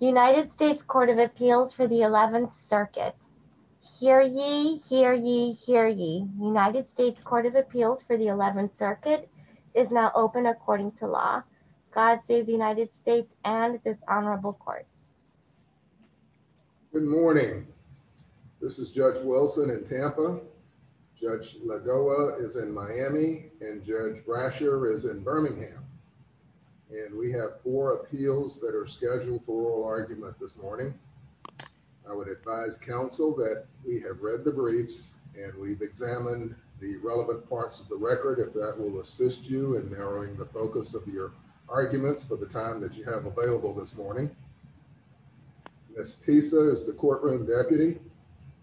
United States Court of Appeals for the 11th Circuit. Hear ye, hear ye, hear ye. United States Court of Appeals for the 11th Circuit is now open according to law. God save the United States and this honorable court. Good morning. This is Judge Wilson in Tampa, Judge Lagoa is in Miami, and Judge Brasher is in Birmingham and we have four appeals that are scheduled for oral argument this morning. I would advise counsel that we have read the briefs and we've examined the relevant parts of the record if that will assist you in narrowing the focus of your arguments for the time that you have available this morning. Miss Tisa is the courtroom deputy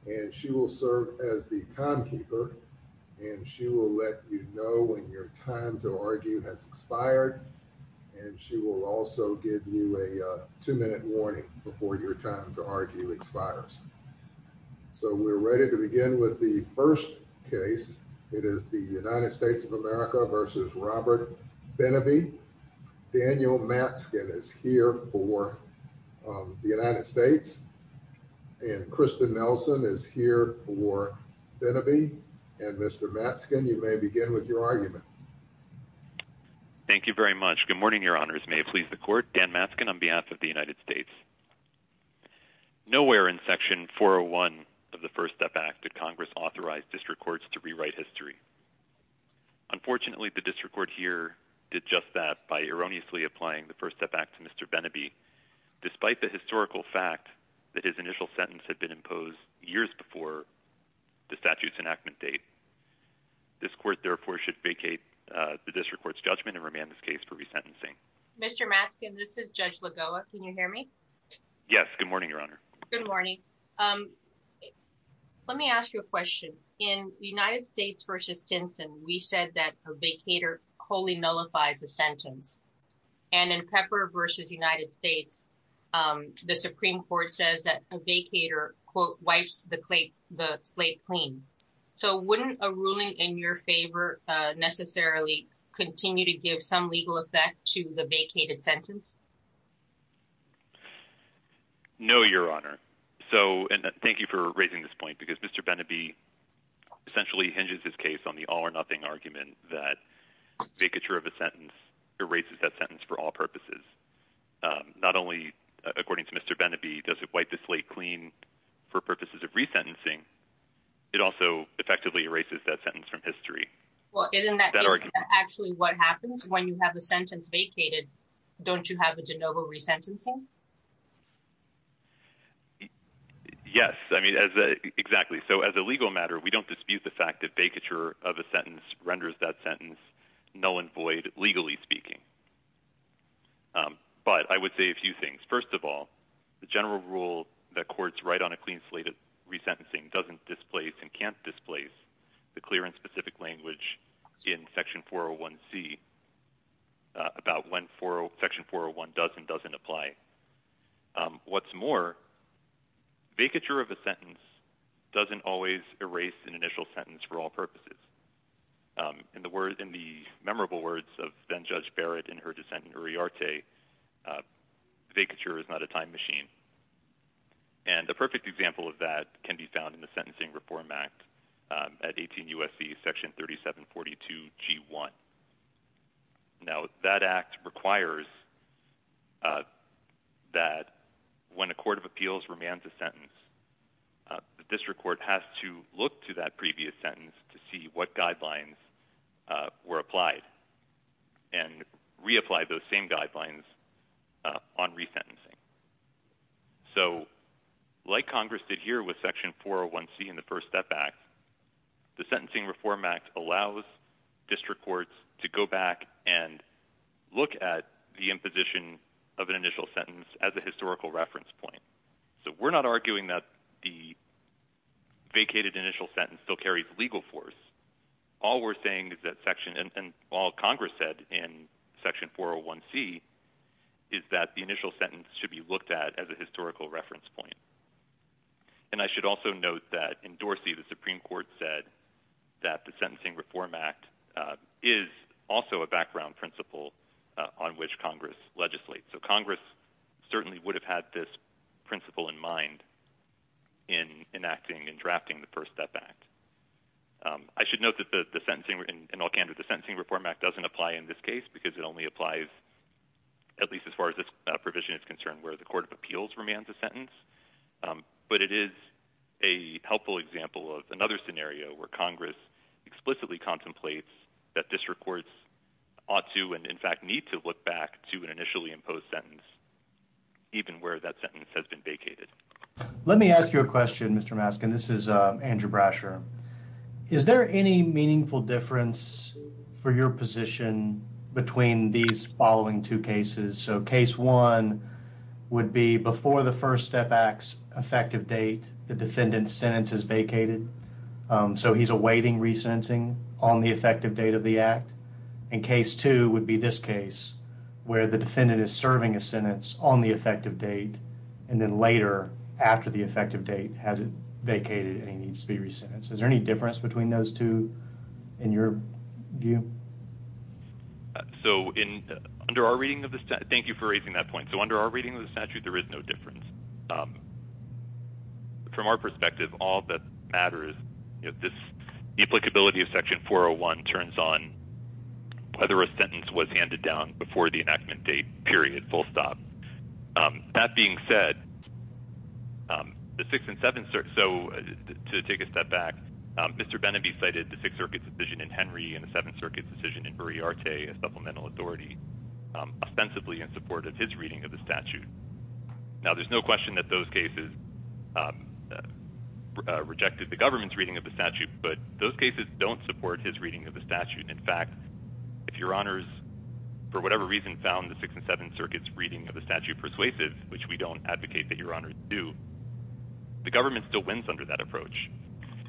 and she will serve as the timekeeper and she will let you know when your time to argue has expired and she will also give you a two-minute warning before your time to argue expires. So we're ready to begin with the first case. It is the United States of America versus Robert Beneby. Daniel Matzkin is here for the United States and Kristen Nelson is here for Beneby and Mr. Matzkin you may begin with your argument. Thank you very much. Good morning, your honors. May it please the court. Dan Matzkin on behalf of the United States. Nowhere in section 401 of the First Step Act did Congress authorize district courts to rewrite history. Unfortunately the district court here did just that by erroneously applying the First Step Act to Mr. Beneby despite the historical fact that his initial sentence had been imposed years before the statute's enactment date. This court therefore should vacate the district court's judgment and remand this case for resentencing. Mr. Matzkin, this is Judge Lagoa. Can you hear me? Yes, good morning, your honor. Good morning. Let me ask you a question. In the United States versus Tinson, we said that a vacator wholly nullifies a sentence and in Pepper versus United States, the Supreme Court says that a vacator quote wipes the slate clean. So wouldn't a ruling in your favor necessarily continue to give some legal effect to the vacated sentence? No, your honor. So and thank you for raising this point because Mr. Beneby essentially hinges his case on the all or nothing argument that vacature of a sentence erases that sentence for all purposes. Not only according to Mr. Beneby does it wipe the slate clean for purposes of resentencing, it also effectively erases that sentence from history. Well isn't that actually what happens when you have a sentence vacated? Don't you have a de novo resentencing? Yes, I mean, exactly. So as a legal matter, we don't dispute the fact that vacature of a sentence renders that sentence null and void legally speaking. But I would say a few things. First of all, the general rule that courts write on a clean slate of resentencing doesn't displace and can't displace the clear and specific language in section 401c about when section 401 does and doesn't apply. What's more, vacature of a sentence doesn't always erase an initial sentence for all purposes. In the memorable words of then Judge Barrett in her dissent in Uriarte, vacature is not a time machine. And a perfect example of that can be now that act requires that when a court of appeals remands a sentence, the district court has to look to that previous sentence to see what guidelines were applied and reapply those same guidelines on resentencing. So like Congress did here with section 401c in the First Step Act, the Sentencing Reform Act allows district courts to go back and look at the imposition of an initial sentence as a historical reference point. So we're not arguing that the vacated initial sentence still carries legal force. All we're saying is that section and all Congress said in section 401c is that the initial sentence should be looked at as a historical reference point. And I should also note that in Dorsey the Supreme Court said that the Sentencing Reform Act is also a background principle on which Congress legislates. So Congress certainly would have had this principle in mind in enacting and drafting the First Step Act. I should note that the Sentencing Reform Act doesn't apply in this case because it only applies at least as far as this provision is concerned where the court of appeals remands a sentence. But it is a helpful example of another scenario where Congress explicitly contemplates that district courts ought to and in fact need to look back to an initially imposed sentence even where that sentence has been vacated. Let me ask you a question, Mr. Maskin. This is Andrew Brasher. Is there any meaningful difference for your position between these following two cases? So case one would be before the First Step Act's effective date the defendant's sentence is vacated. So he's awaiting resentencing on the effective date of the act. And case two would be this case where the defendant is serving a sentence on the effective date and then later after the effective date has it vacated and he is to be resentenced. Is there any difference between those two in your view? So under our reading of the statute, thank you for raising that point, so under our reading of the statute there is no difference. From our perspective all that matters is this applicability of section 401 turns on whether a sentence was handed down before the enactment date period full stop. That being said the Sixth and Seventh Circuit, so to take a step back, Mr. Benneby cited the Sixth Circuit's decision in Henry and the Seventh Circuit's decision in Berriarte as supplemental authority ostensibly in support of his reading of the statute. Now there's no question that those cases rejected the government's reading of the statute but those cases don't support his reading of the statute. In fact if your honors for whatever reason found the Sixth and Seventh Circuit's statute persuasive, which we don't advocate that your honors do, the government still wins under that approach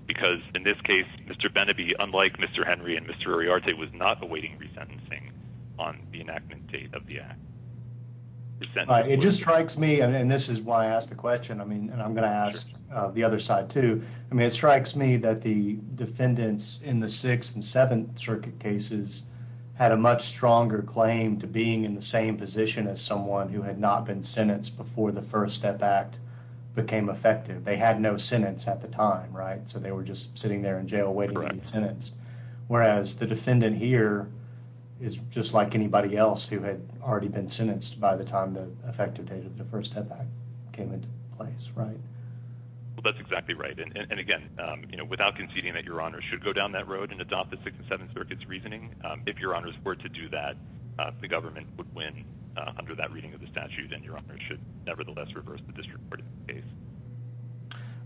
because in this case Mr. Benneby unlike Mr. Henry and Mr. Berriarte was not awaiting resentencing on the enactment date of the act. It just strikes me and this is why I asked the question I mean and I'm going to ask the other side too, I mean it strikes me that the defendants in the Sixth and Seventh Circuit cases had a much stronger claim to being in the same position as someone who had not been sentenced before the First Step Act became effective. They had no sentence at the time right so they were just sitting there in jail waiting to be sentenced whereas the defendant here is just like anybody else who had already been sentenced by the time the effective date of the First Step Act came into place right? Well that's exactly right and again you know without conceding that your honors should go down that road and adopt the Sixth and Seventh Circuit's reasoning if your honors were to do that the government would win under that reading of the statute and your honors should nevertheless reverse the district court's case.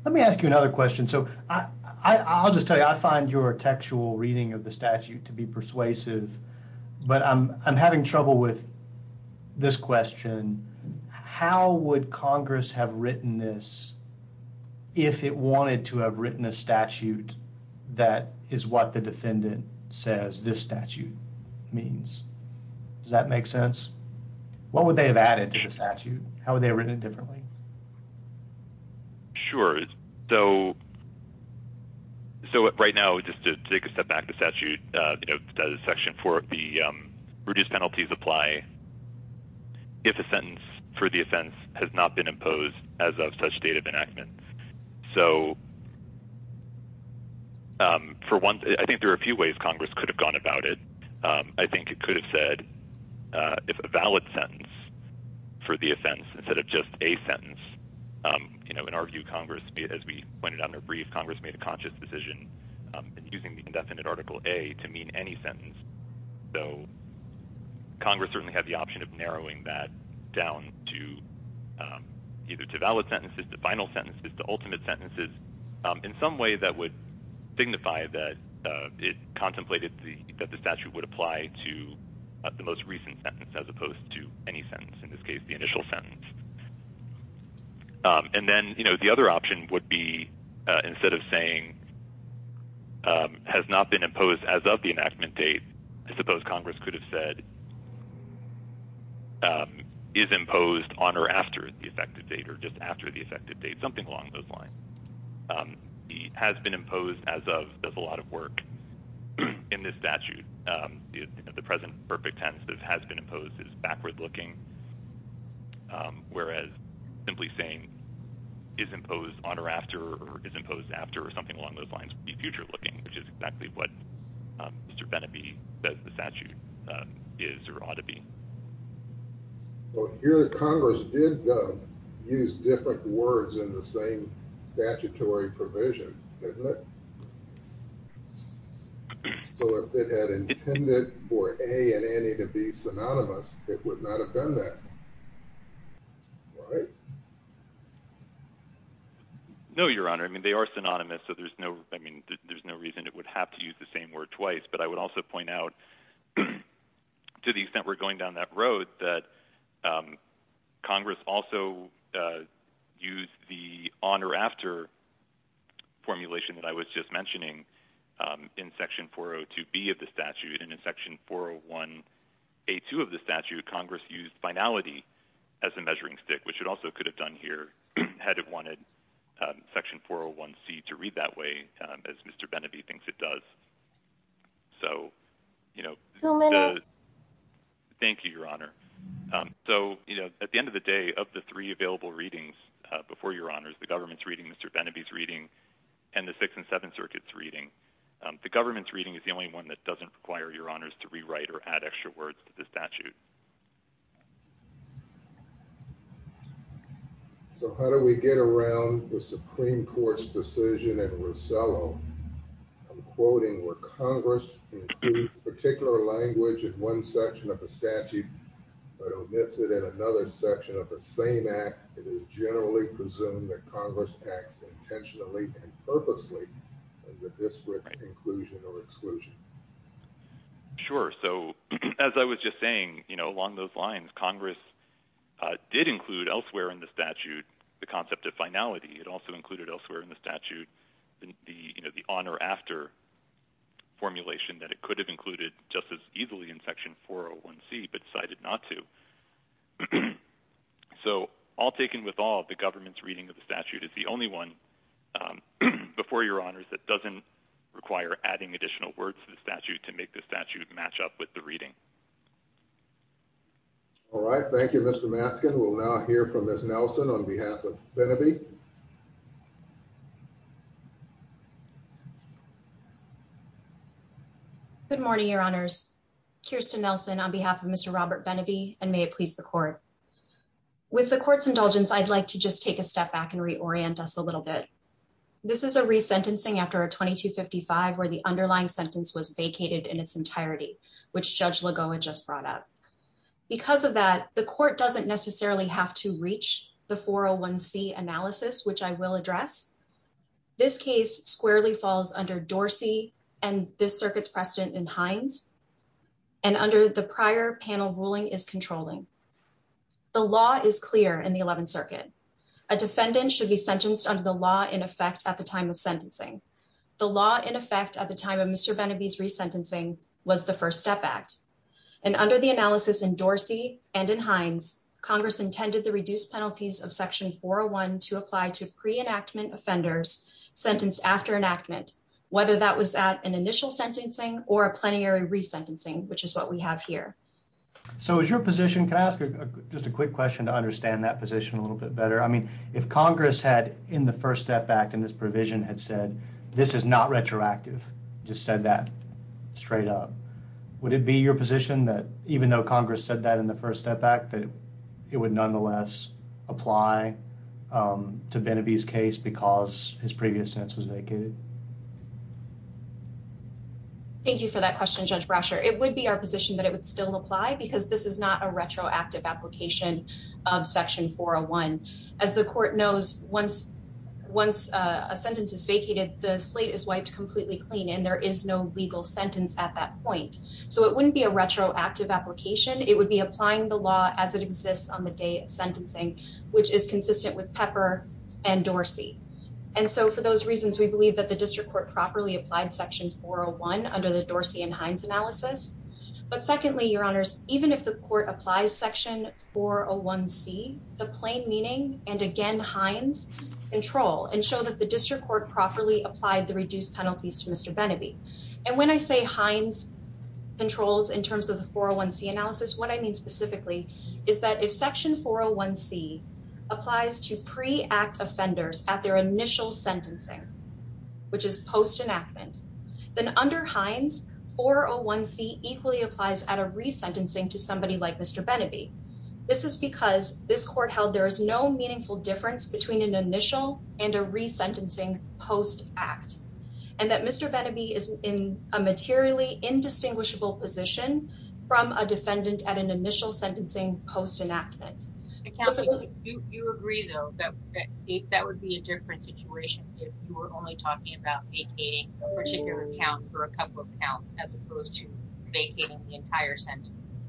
Let me ask you another question so I'll just tell you I find your textual reading of the statute to be persuasive but I'm having trouble with this question. How would Congress have written this if it wanted to have written a statute that is what the defendant says this statute means? Does that make sense? What would they have added to the statute? How would they have written it differently? Sure so right now just to take a step back the statute section four of the reduced penalties apply if a sentence for the offense has not been imposed as of such date of enactment. So for one I think there are a few ways Congress could have gone about it. I think it could have said if a valid sentence for the offense instead of just a sentence you know and argue Congress as we pointed out in a brief Congress made a conscious decision and using the indefinite article a to mean any sentence. So Congress certainly had the option of narrowing that down to either to valid sentences to final sentences to ultimate sentences in some way that would signify that it contemplated the that the statute would apply to the most recent sentence as opposed to any sentence in this case the initial sentence. And then you know the other option would be instead of saying has not been imposed as of the enactment date I suppose Congress could have said is imposed on or after the effective date or just after the effective date something along those lines. Has been imposed as of does a lot of work in this statute. The present perfect tense that has been imposed is backward looking whereas simply saying is imposed on or after or is imposed after or something along those lines would be future looking which is exactly what Mr. Benneby says the statute is or ought to be. Well here Congress did use different words in the same statutory provision didn't it? So if it had intended for a and any to be synonymous it would not have done that right? No your honor I mean they are synonymous so there's no I mean there's no reason it would have to use the same word twice but I would also point out to the extent we're going down that road that Congress also used the on or after formulation that I was just mentioning in section 402b of the statute and in section 401a2 of the statute Congress used finality as a measuring stick which it also could have done here had it wanted section 401c to read that way as Mr. Benneby thinks it does. So you know thank you your honor so you know at the end of the day of the three available readings before your honors the government's reading Mr. Benneby's reading and the six and seven circuits reading the government's reading is the only one that doesn't require your honors to rewrite or add extra words to the statute. So how do we get around the Supreme Court's decision in Rosello? I'm quoting where Congress includes particular language in one section of the statute but omits it in another section of the same act. It is generally presumed that Congress acts intentionally and purposely with disparate inclusion or exclusion. Sure so as I was just saying you know along those lines Congress did include elsewhere in the statute the concept of finality. It also included elsewhere in the statute the you know the on or after formulation that it could have included just as easily in section 401c but decided not to. So all taken with all the government's reading of the statute is the only one before your honors that doesn't require adding additional words to the statute to make the statute match up with the reading. All right thank you Mr. Maskin. We'll now hear from Ms. Nelson on behalf of Benneby. Good morning your honors. Kirsten Nelson on behalf of Mr. Robert Benneby and may it please the court. With the court's indulgence I'd like to just take a step back and reorient us a little bit. This is a resentencing after a 2255 where the underlying sentence was vacated in its entirety which Judge Lagoa just brought up. Because of that the court doesn't necessarily have to reach the 401c analysis which I will address. This case squarely falls under Dorsey and this circuit's precedent in Hines and under the prior panel ruling is controlling. The law is clear in the 11th circuit. A defendant should be sentenced under the law in effect at the time of sentencing. The law in effect at the time of Mr. Benneby's resentencing was the first step act and under the analysis in Dorsey and in Hines Congress intended the reduced penalties of section 401 to apply to pre-enactment offenders sentenced after enactment whether that was at an initial sentencing or a plenary resentencing which is what we have here. So is your position, can I ask just a quick question to understand that position a little bit better? I mean if Congress had in the first step act in this provision had said this is not retroactive, just said that straight up, would it be your position that even though Congress said that in the first step act that it would nonetheless apply to Benneby's case because his previous was vacated? Thank you for that question Judge Brasher. It would be our position that it would still apply because this is not a retroactive application of section 401. As the court knows once a sentence is vacated the slate is wiped completely clean and there is no legal sentence at that point. So it wouldn't be a retroactive application. It would be applying the law as it the district court properly applied section 401 under the Dorsey and Hines analysis. But secondly, your honors, even if the court applies section 401C, the plain meaning and again Hines control and show that the district court properly applied the reduced penalties to Mr. Benneby. And when I say Hines controls in terms of the 401C analysis, what I mean specifically is that if section 401C applies to pre-act offenders at their initial sentencing, which is post enactment, then under Hines 401C equally applies at a resentencing to somebody like Mr. Benneby. This is because this court held there is no meaningful difference between an initial and a resentencing post act. And that Mr. Benneby is in a materially indistinguishable position from a defendant at an initial sentencing post enactment. You agree though that that would be a different situation if you were only talking about vacating a particular account for a couple of counts as opposed to vacating the entire sentence.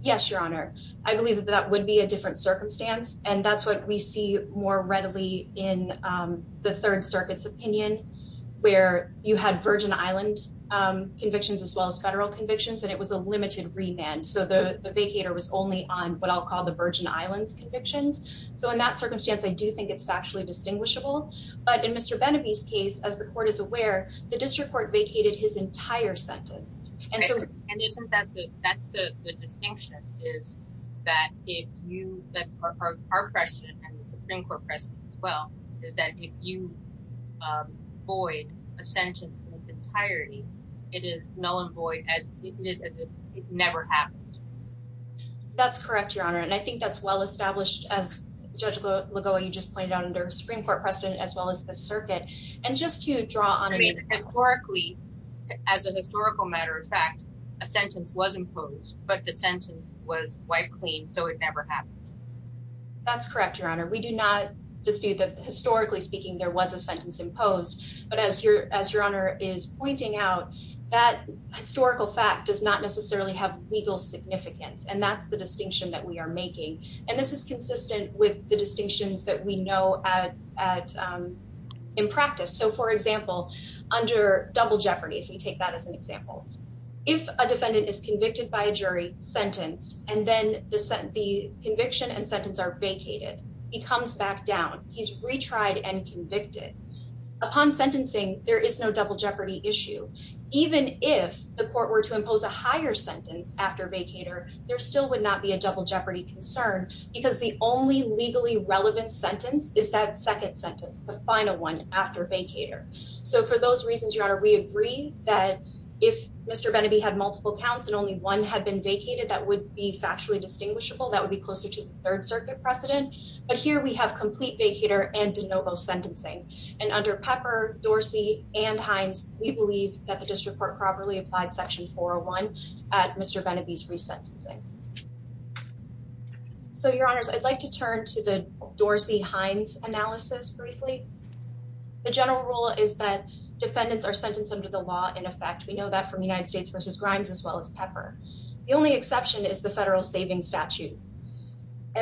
Yes, your honor. I believe that that would be a different circumstance and that's what we see more readily in the third and it was a limited remand. So the vacator was only on what I'll call the Virgin Islands convictions. So in that circumstance, I do think it's factually distinguishable, but in Mr. Benneby's case, as the court is aware, the district court vacated his entire sentence. And so, and isn't that the, that's the distinction is that if you, that's our question and the is never happened. That's correct, your honor. And I think that's well established as judge Lagoa, you just pointed out under Supreme court precedent as well as the circuit. And just to draw on historically, as an historical matter of fact, a sentence was imposed, but the sentence was wiped clean. So it never happened. That's correct, your honor. We do not dispute that historically speaking, there was a sentence imposed, but as your, as your honor is pointing out that historical fact does not necessarily have legal significance. And that's the distinction that we are making. And this is consistent with the distinctions that we know at, at in practice. So for example, under double jeopardy, if we take that as an example, if a defendant is convicted by a jury sentenced, and then the conviction and sentence are vacated, he comes back down, he's retried and convicted upon sentencing. There is no double jeopardy issue. Even if the court were to impose a higher sentence after vacator, there still would not be a double jeopardy concern because the only legally relevant sentence is that second sentence, the final one after vacator. So for those reasons, your honor, we agree that if Mr. Bennaby had multiple counts and only one had been vacated, that would be factually distinguishable. That would be closer to the third circuit precedent. But here we have complete vacator and de novo sentencing. And under Pepper, Dorsey and Hines, we believe that the district court properly applied section 401 at Mr. Bennaby's resentencing. So your honors, I'd like to turn to the Dorsey-Hines analysis briefly. The general rule is that defendants are sentenced under the law in effect. We know that from United States versus Grimes, as well as Pepper. The only exception is the federal savings statute,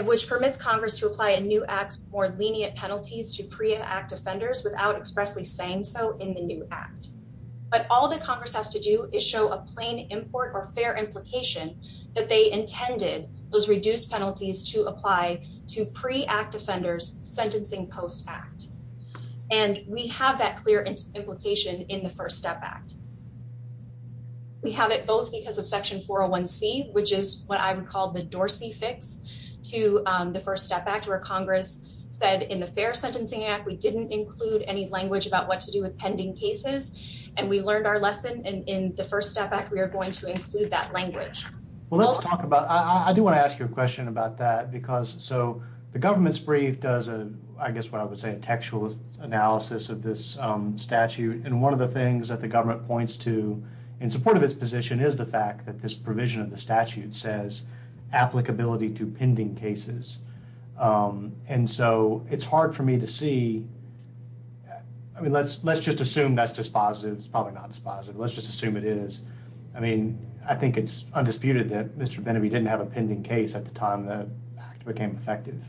which permits Congress to apply a new act more lenient penalties to pre-act offenders without expressly saying so in the new act. But all that Congress has to do is show a plain import or fair implication that they intended those reduced penalties to apply to pre-act offenders sentencing post-act. And we have that clear implication in the First Step Act, which is what I would call the Dorsey fix to the First Step Act, where Congress said in the Fair Sentencing Act, we didn't include any language about what to do with pending cases. And we learned our lesson in the First Step Act, we are going to include that language. Well, let's talk about, I do want to ask you a question about that because so the government's brief does, I guess what I would say, a textual analysis of this statute. And one of the things that the government points to in support of its position is the fact that this provision of the statute says applicability to pending cases. And so it's hard for me to see. I mean, let's just assume that's dispositive. It's probably not dispositive. Let's just assume it is. I mean, I think it's undisputed that Mr. Benneby didn't have a pending case at the time the act became effective.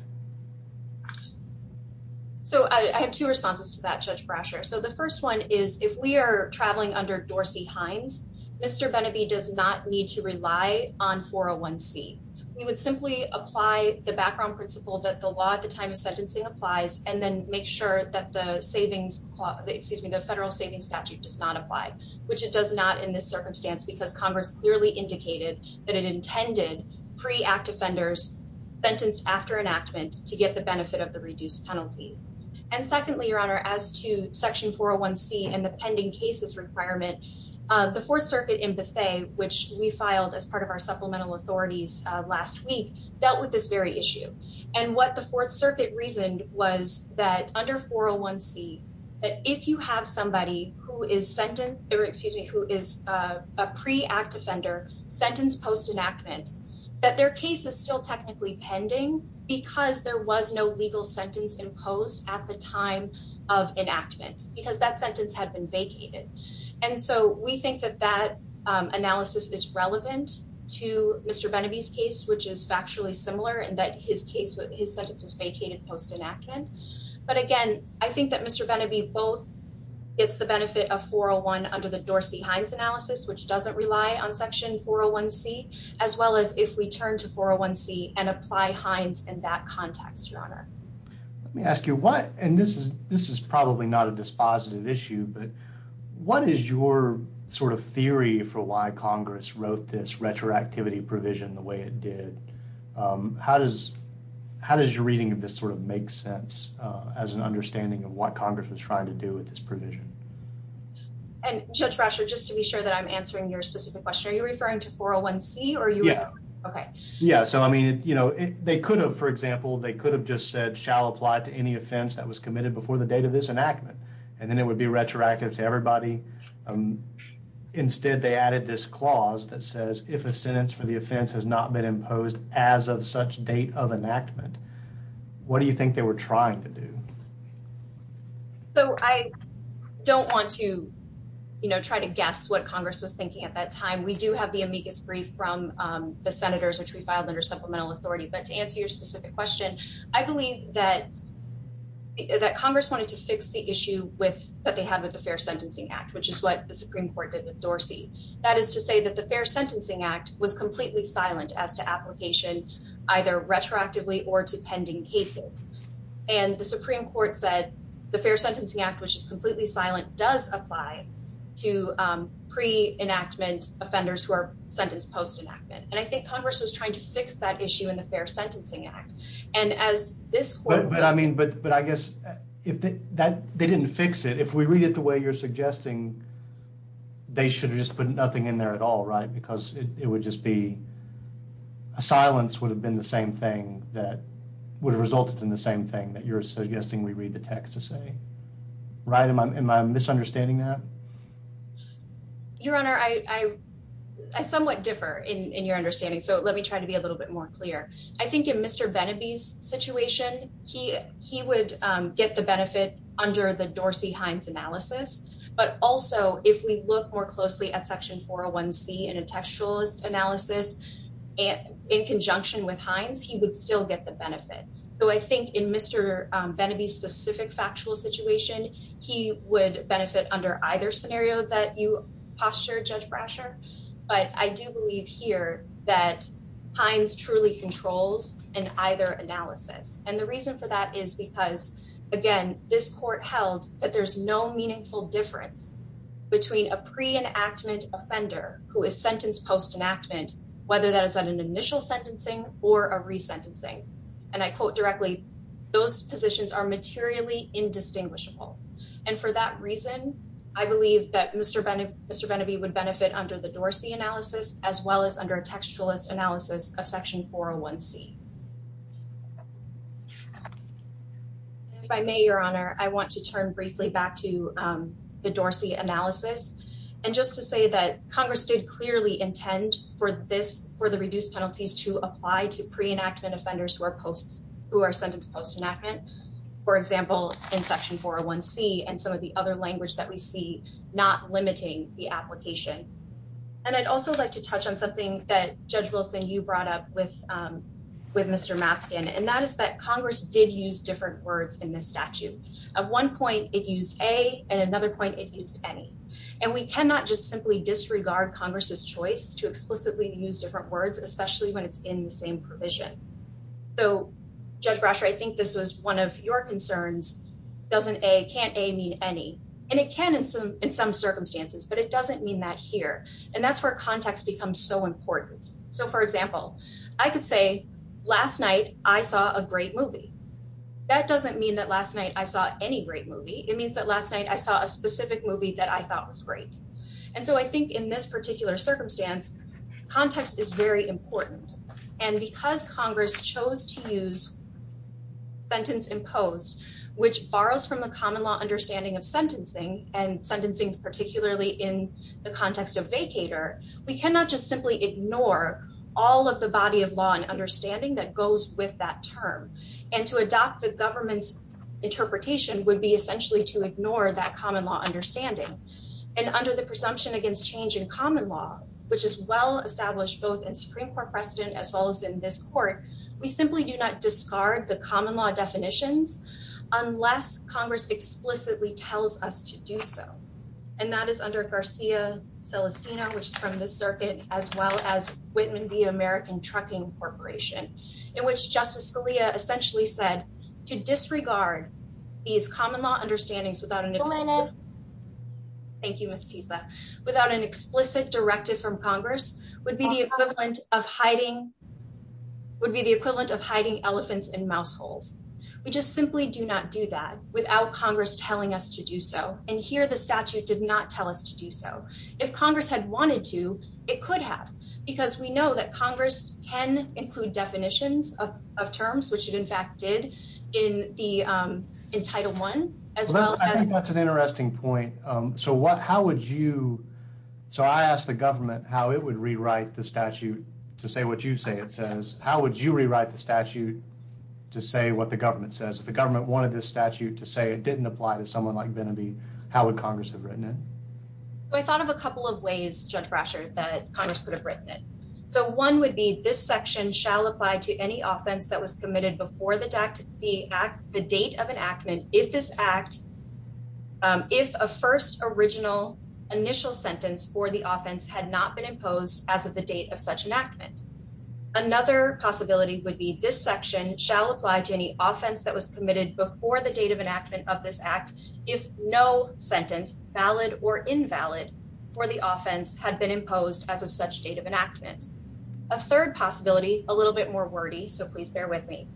So I have two responses to that, Judge Brasher. So the first one is, if we are traveling under Dorsey Hines, Mr. Benneby does not need to rely on 401C. We would simply apply the background principle that the law at the time of sentencing applies, and then make sure that the federal savings statute does not apply, which it does not in this circumstance, because Congress clearly indicated that it intended pre-act offenders sentenced after enactment to get the benefit of the reduced penalties. And secondly, Your Honor, as to 401C and the pending cases requirement, the Fourth Circuit in Bethe, which we filed as part of our supplemental authorities last week, dealt with this very issue. And what the Fourth Circuit reasoned was that under 401C, that if you have somebody who is a pre-act offender sentenced post enactment, that their case is still technically pending because there was no legal sentence imposed at the time of enactment because that sentence had been vacated. And so we think that that analysis is relevant to Mr. Benneby's case, which is factually similar in that his case, his sentence was vacated post enactment. But again, I think that Mr. Benneby both gets the benefit of 401 under the Dorsey Hines analysis, which doesn't rely on section 401C, as well as if we turn to 401C and apply Hines in that context, Your Honor. Let me ask you what, and this is, this is probably not a dispositive issue, but what is your sort of theory for why Congress wrote this retroactivity provision the way it did? How does, how does your reading of this sort of make sense as an understanding of what Congress was trying to do with this provision? And Judge Brasher, just to be sure that I'm answering your specific question, are you referring to 401C? Yeah. Okay. Yeah. So, I mean, you know, they could have, for example, they could have just said, shall apply to any offense that was committed before the date of this enactment, and then it would be retroactive to everybody. Instead, they added this clause that says, if a sentence for the offense has not been imposed as of such date of enactment, what do you think they were trying to do? So I don't want to, you know, try to guess what from the senators, which we filed under supplemental authority. But to answer your specific question, I believe that, that Congress wanted to fix the issue with, that they had with the Fair Sentencing Act, which is what the Supreme Court did with Dorsey. That is to say that the Fair Sentencing Act was completely silent as to application, either retroactively or to pending cases. And the Supreme Court said the Fair Sentencing Act, which is completely silent, does apply to pre-enactment offenders who are sentenced post-enactment. And I think Congress was trying to fix that issue in the Fair Sentencing Act. And as this court- But I mean, but I guess if that, they didn't fix it. If we read it the way you're suggesting, they should have just put nothing in there at all, right? Because it would just be, a silence would have been the same thing that would have resulted in the same thing that you're suggesting we read the text to say, right? Am I misunderstanding that? Your Honor, I somewhat differ in your understanding. So let me try to be a little bit more clear. I think in Mr. Beneby's situation, he would get the benefit under the Dorsey-Hines analysis. But also if we look more closely at Section 401C in a textualist analysis, and in conjunction with Hines, he would still get the benefit. So I think in Mr. Beneby's specific factual situation, he would benefit under either scenario that you postured, Judge Brasher. But I do believe here that Hines truly controls in either analysis. And the reason for that is because, again, this court held that there's no meaningful difference between a pre-enactment offender who is sentenced post-enactment, whether that is an initial sentencing or a resentencing. And I quote directly, those positions are materially indistinguishable. And for that reason, I believe that Mr. Beneby would benefit under the Dorsey analysis as well as under a textualist analysis of Section 401C. If I may, Your Honor, I want to turn briefly back to the Dorsey analysis. And just to say that Congress did clearly intend for this, for the reduced penalties to apply to pre-enactment offenders who are sentenced post-enactment. For example, in Section 401C and some of the other language that we see not limiting the application. And I'd also like to touch on something that Judge Wilson, you brought up with Mr. Matzkin, and that is that Congress did different words in this statute. At one point, it used a, and another point it used any. And we cannot just simply disregard Congress's choice to explicitly use different words, especially when it's in the same provision. So Judge Brasher, I think this was one of your concerns. Doesn't a, can't a mean any? And it can in some circumstances, but it doesn't mean that here. And that's where becomes so important. So for example, I could say last night, I saw a great movie. That doesn't mean that last night I saw any great movie. It means that last night I saw a specific movie that I thought was great. And so I think in this particular circumstance, context is very important. And because Congress chose to use sentence imposed, which borrows from the common law understanding of sentencing and sentencing is particularly in the context of vacator, we cannot just simply ignore all of the body of law and understanding that goes with that term. And to adopt the government's interpretation would be essentially to ignore that common law understanding. And under the presumption against change in common law, which is well established, both in Supreme court precedent, as well as in this court, we simply do not discard the common law definitions unless Congress explicitly tells us to do so. And that is under Garcia Celestino, which is from the circuit, as well as Whitman via American trucking corporation in which justice Scalia essentially said to disregard these common law understandings without an, thank you, Ms. Tisa, without an explicit directive from Congress would be the equivalent of hiding, would be the equivalent of hiding elephants in mouse holes. We just simply do not do that without Congress telling us to do so. And here, the statute did not tell us to do so. If Congress had wanted to, it could have, because we know that Congress can include definitions of terms, which it in fact did in the, um, in title one as well. I think that's an interesting point. Um, so what, how would you, so I asked the government how it would rewrite the statute to say what you say? It says, how would you rewrite the statute to say what the government says? If the government wanted this statute to say it didn't apply to someone like Venaby, how would Congress have written it? I thought of a couple of ways, Judge Brasher, that Congress could have written it. So one would be this section shall apply to any offense that was committed before the deck, the act, the date of enactment. If this act, um, if a first original initial sentence for the offense had not been imposed as of the date of such enactment, another possibility would be this section shall apply to any offense that was committed before the date of enactment of this act. If no sentence valid or invalid for the offense had been imposed as of such date of enactment, a third possibility, a little bit more wordy. So please bear with me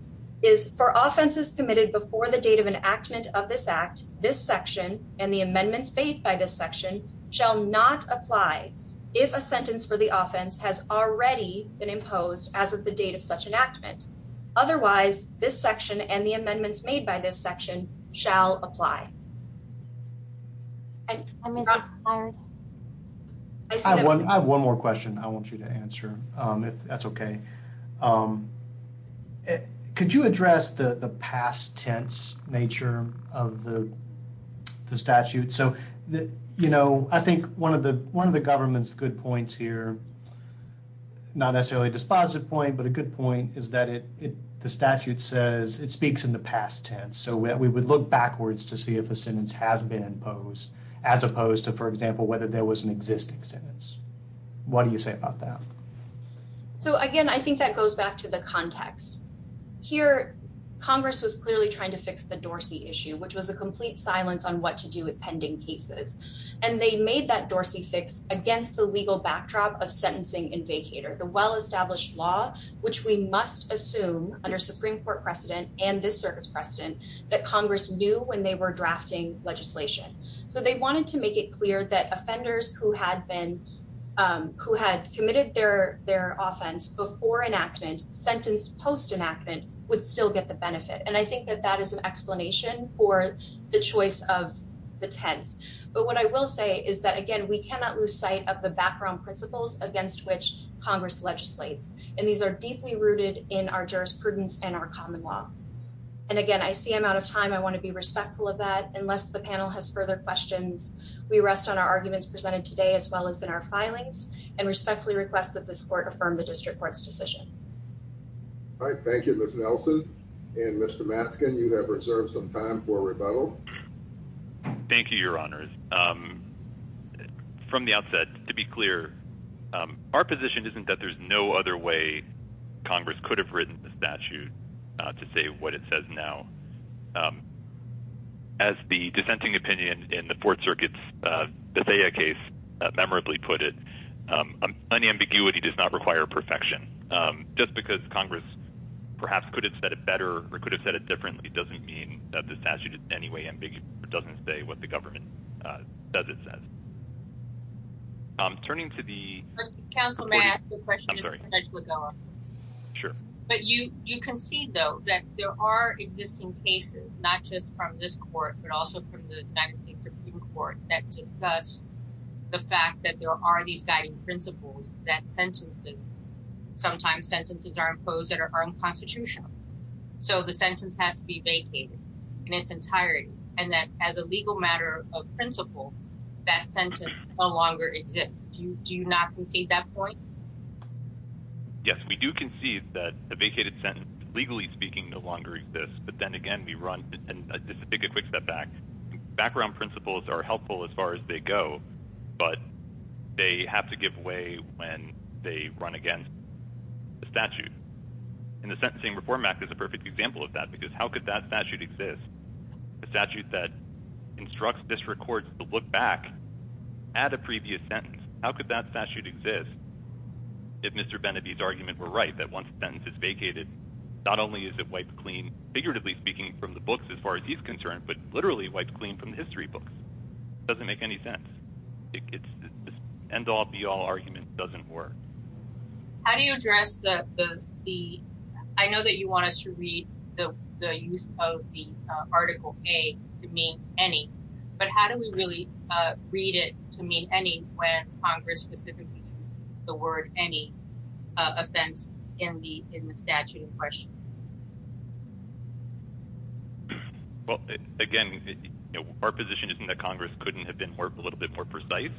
is for offenses committed before the date of enactment of this act, this section and the shall not apply if a sentence for the offense has already been imposed as of the date of such enactment. Otherwise, this section and the amendments made by this section shall apply. I have one more question I want you to answer, um, if that's okay. Um, could you address the past tense nature of the statute? So, you know, I think one of the, one of the government's good points here, not necessarily a dispositive point, but a good point is that it, the statute says it speaks in the past tense. So we would look backwards to see if a sentence has been imposed as opposed to, for example, whether there was an existing sentence. What do you say about that? So again, I think that goes back to the context here. Congress was clearly trying to fix the Dorsey issue, which was a complete silence on what to do with pending cases. And they made that Dorsey fix against the legal backdrop of sentencing in vacator, the well established law, which we must assume under Supreme Court precedent and this circus precedent that Congress knew when they were drafting legislation. So they wanted to make it clear that offenders who had been, um, who had committed their, their offense before enactment sentence post enactment would still get the benefit. And I think that that is an explanation for the choice of the tense. But what I will say is that, again, we cannot lose sight of the background principles against which Congress legislates. And these are deeply rooted in our jurisprudence and our common law. And again, I see I'm out of time. I want to be respectful of that unless the panel has further questions. We rest on our arguments presented today, as well as in our filings and respectfully request that this court affirmed the district court's decision. All right. Thank you, Miss Nelson and Mr Matzkin. You have reserved some time for rebuttal. Thank you, Your Honor. Um, from the outset, to be clear, um, our position isn't that there's no other way Congress could have written the statute to say what it says now. As the dissenting opinion in the Fourth Circuit's Bethea case memorably put it, unambiguity does not require perfection. Just because Congress perhaps could have said it better or could have said it differently doesn't mean that the statute in any way doesn't say what government does. It says I'm turning to the councilman. The question is sure, but you you can see, though, that there are existing cases, not just from this court, but also from the United States Supreme Court that discuss the fact that there are these guiding principles that sentences sometimes sentences are imposed that are unconstitutional. So the sentence has to be vacated in its entirety, and that as a legal matter of principle, that sentence no longer exists. Do you not concede that point? Yes, we do concede that the vacated sentence, legally speaking, no longer exists. But then again, we run and take a quick step back. Background principles are helpful as far as they go, but they have to give way when they run against the statute. And the Sentencing Reform Act is a perfect example of that, because how could that statute exist? A statute that instructs district courts to look back at a previous sentence? How could that statute exist? If Mr. Benneby's argument were right, that once the sentence is vacated, not only is it wiped clean, figuratively speaking, from the books as far as he's concerned, but literally wiped clean from the history books. It doesn't make any sense. It's an end-all be-all argument. It doesn't work. How do you address the... I know that you want us to read the use of the Article A to mean any, but how do we really read it to mean any when Congress specifically used the word any offense in the statute in question? Well, again, our position isn't that Congress couldn't have been a little bit more precise.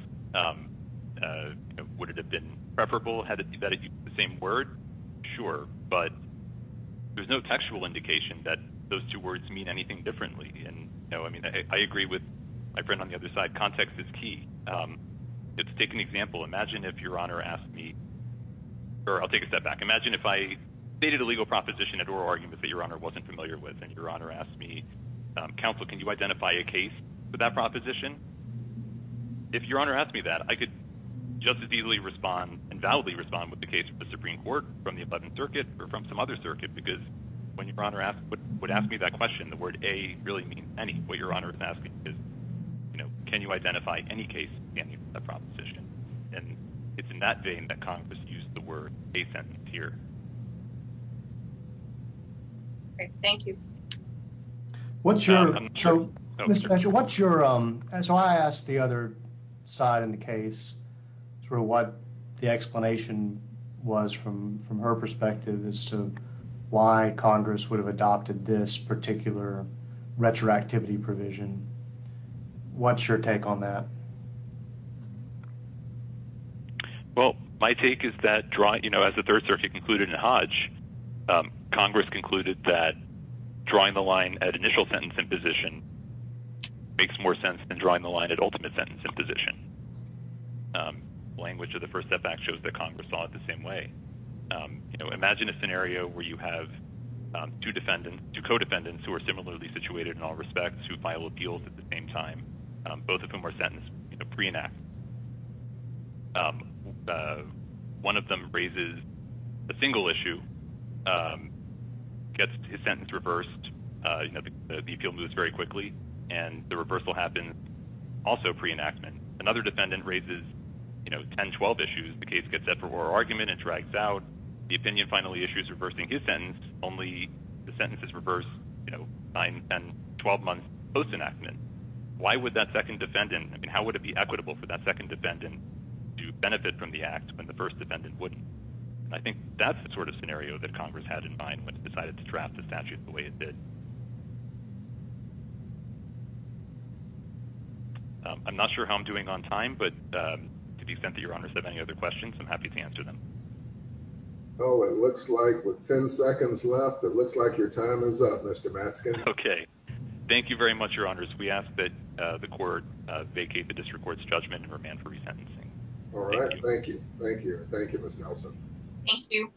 Would it have been preferable had it used the same word? Sure. But there's no textual indication that those two words mean anything differently. I agree with my friend on the other side. Context is key. Let's take an example. Imagine if Your Honor asked me, or I'll take a step back. Imagine if I stated a legal proposition at oral argument that Your Honor wasn't familiar with, and Your Honor asked me, counsel, can you identify a case for that proposition? If Your Honor asked me that, I could just as easily respond and validly respond with the case of the Supreme Court from the Eleventh Circuit or from some other circuit, because when Your Honor would ask me that question, the word a really means any. What Your Honor is asking is, you know, can you identify any case standing for that proposition? And it's in that vein that Congress used the word a sentence here. Great. Thank you. What's your, so Mr. Eshel, what's your, so I asked the other side in the case sort of what the explanation was from her perspective as to why Congress would have adopted this particular retroactivity provision. What's your take on that? Well, my take is that drawing, you know, as the Third Circuit concluded in Hodge, Congress concluded that drawing the line at initial sentence imposition makes more sense than drawing the line at ultimate sentence imposition. Language of the First Step Act shows that Congress saw it the same way. You know, imagine a scenario where you have two defendants, two co-defendants, who are similarly situated in all respects, who file appeals at the same time, both of whom are sentenced, you know, pre-enactment. One of them raises a single issue, gets his sentence reversed, you know, the appeal moves very quickly, and the reversal happens also pre-enactment. Another defendant raises, you know, 10, 12 issues. The case gets set for oral argument and drags out. The opinion finally issues reversing his sentence, only the sentences reverse, you know, 9 and 12 months post-enactment. Why would that second defendant, I mean, how would it be equitable for that second defendant to benefit from the act when the first defendant wouldn't? I think that's the sort of scenario that Congress had in mind when it decided to draft the statute the way it did. I'm not sure how I'm doing on time, but to the extent that your honors have any other questions, I'm happy to answer them. Oh, it looks like with 10 seconds left, it looks like your time is up, Mr. Matsken. Okay. Thank you very much, your honors. We ask that the court vacate the district court's judgment and remand for resentencing. All right. Thank you. Thank you. Thank you, Ms. Nelson. Thank you.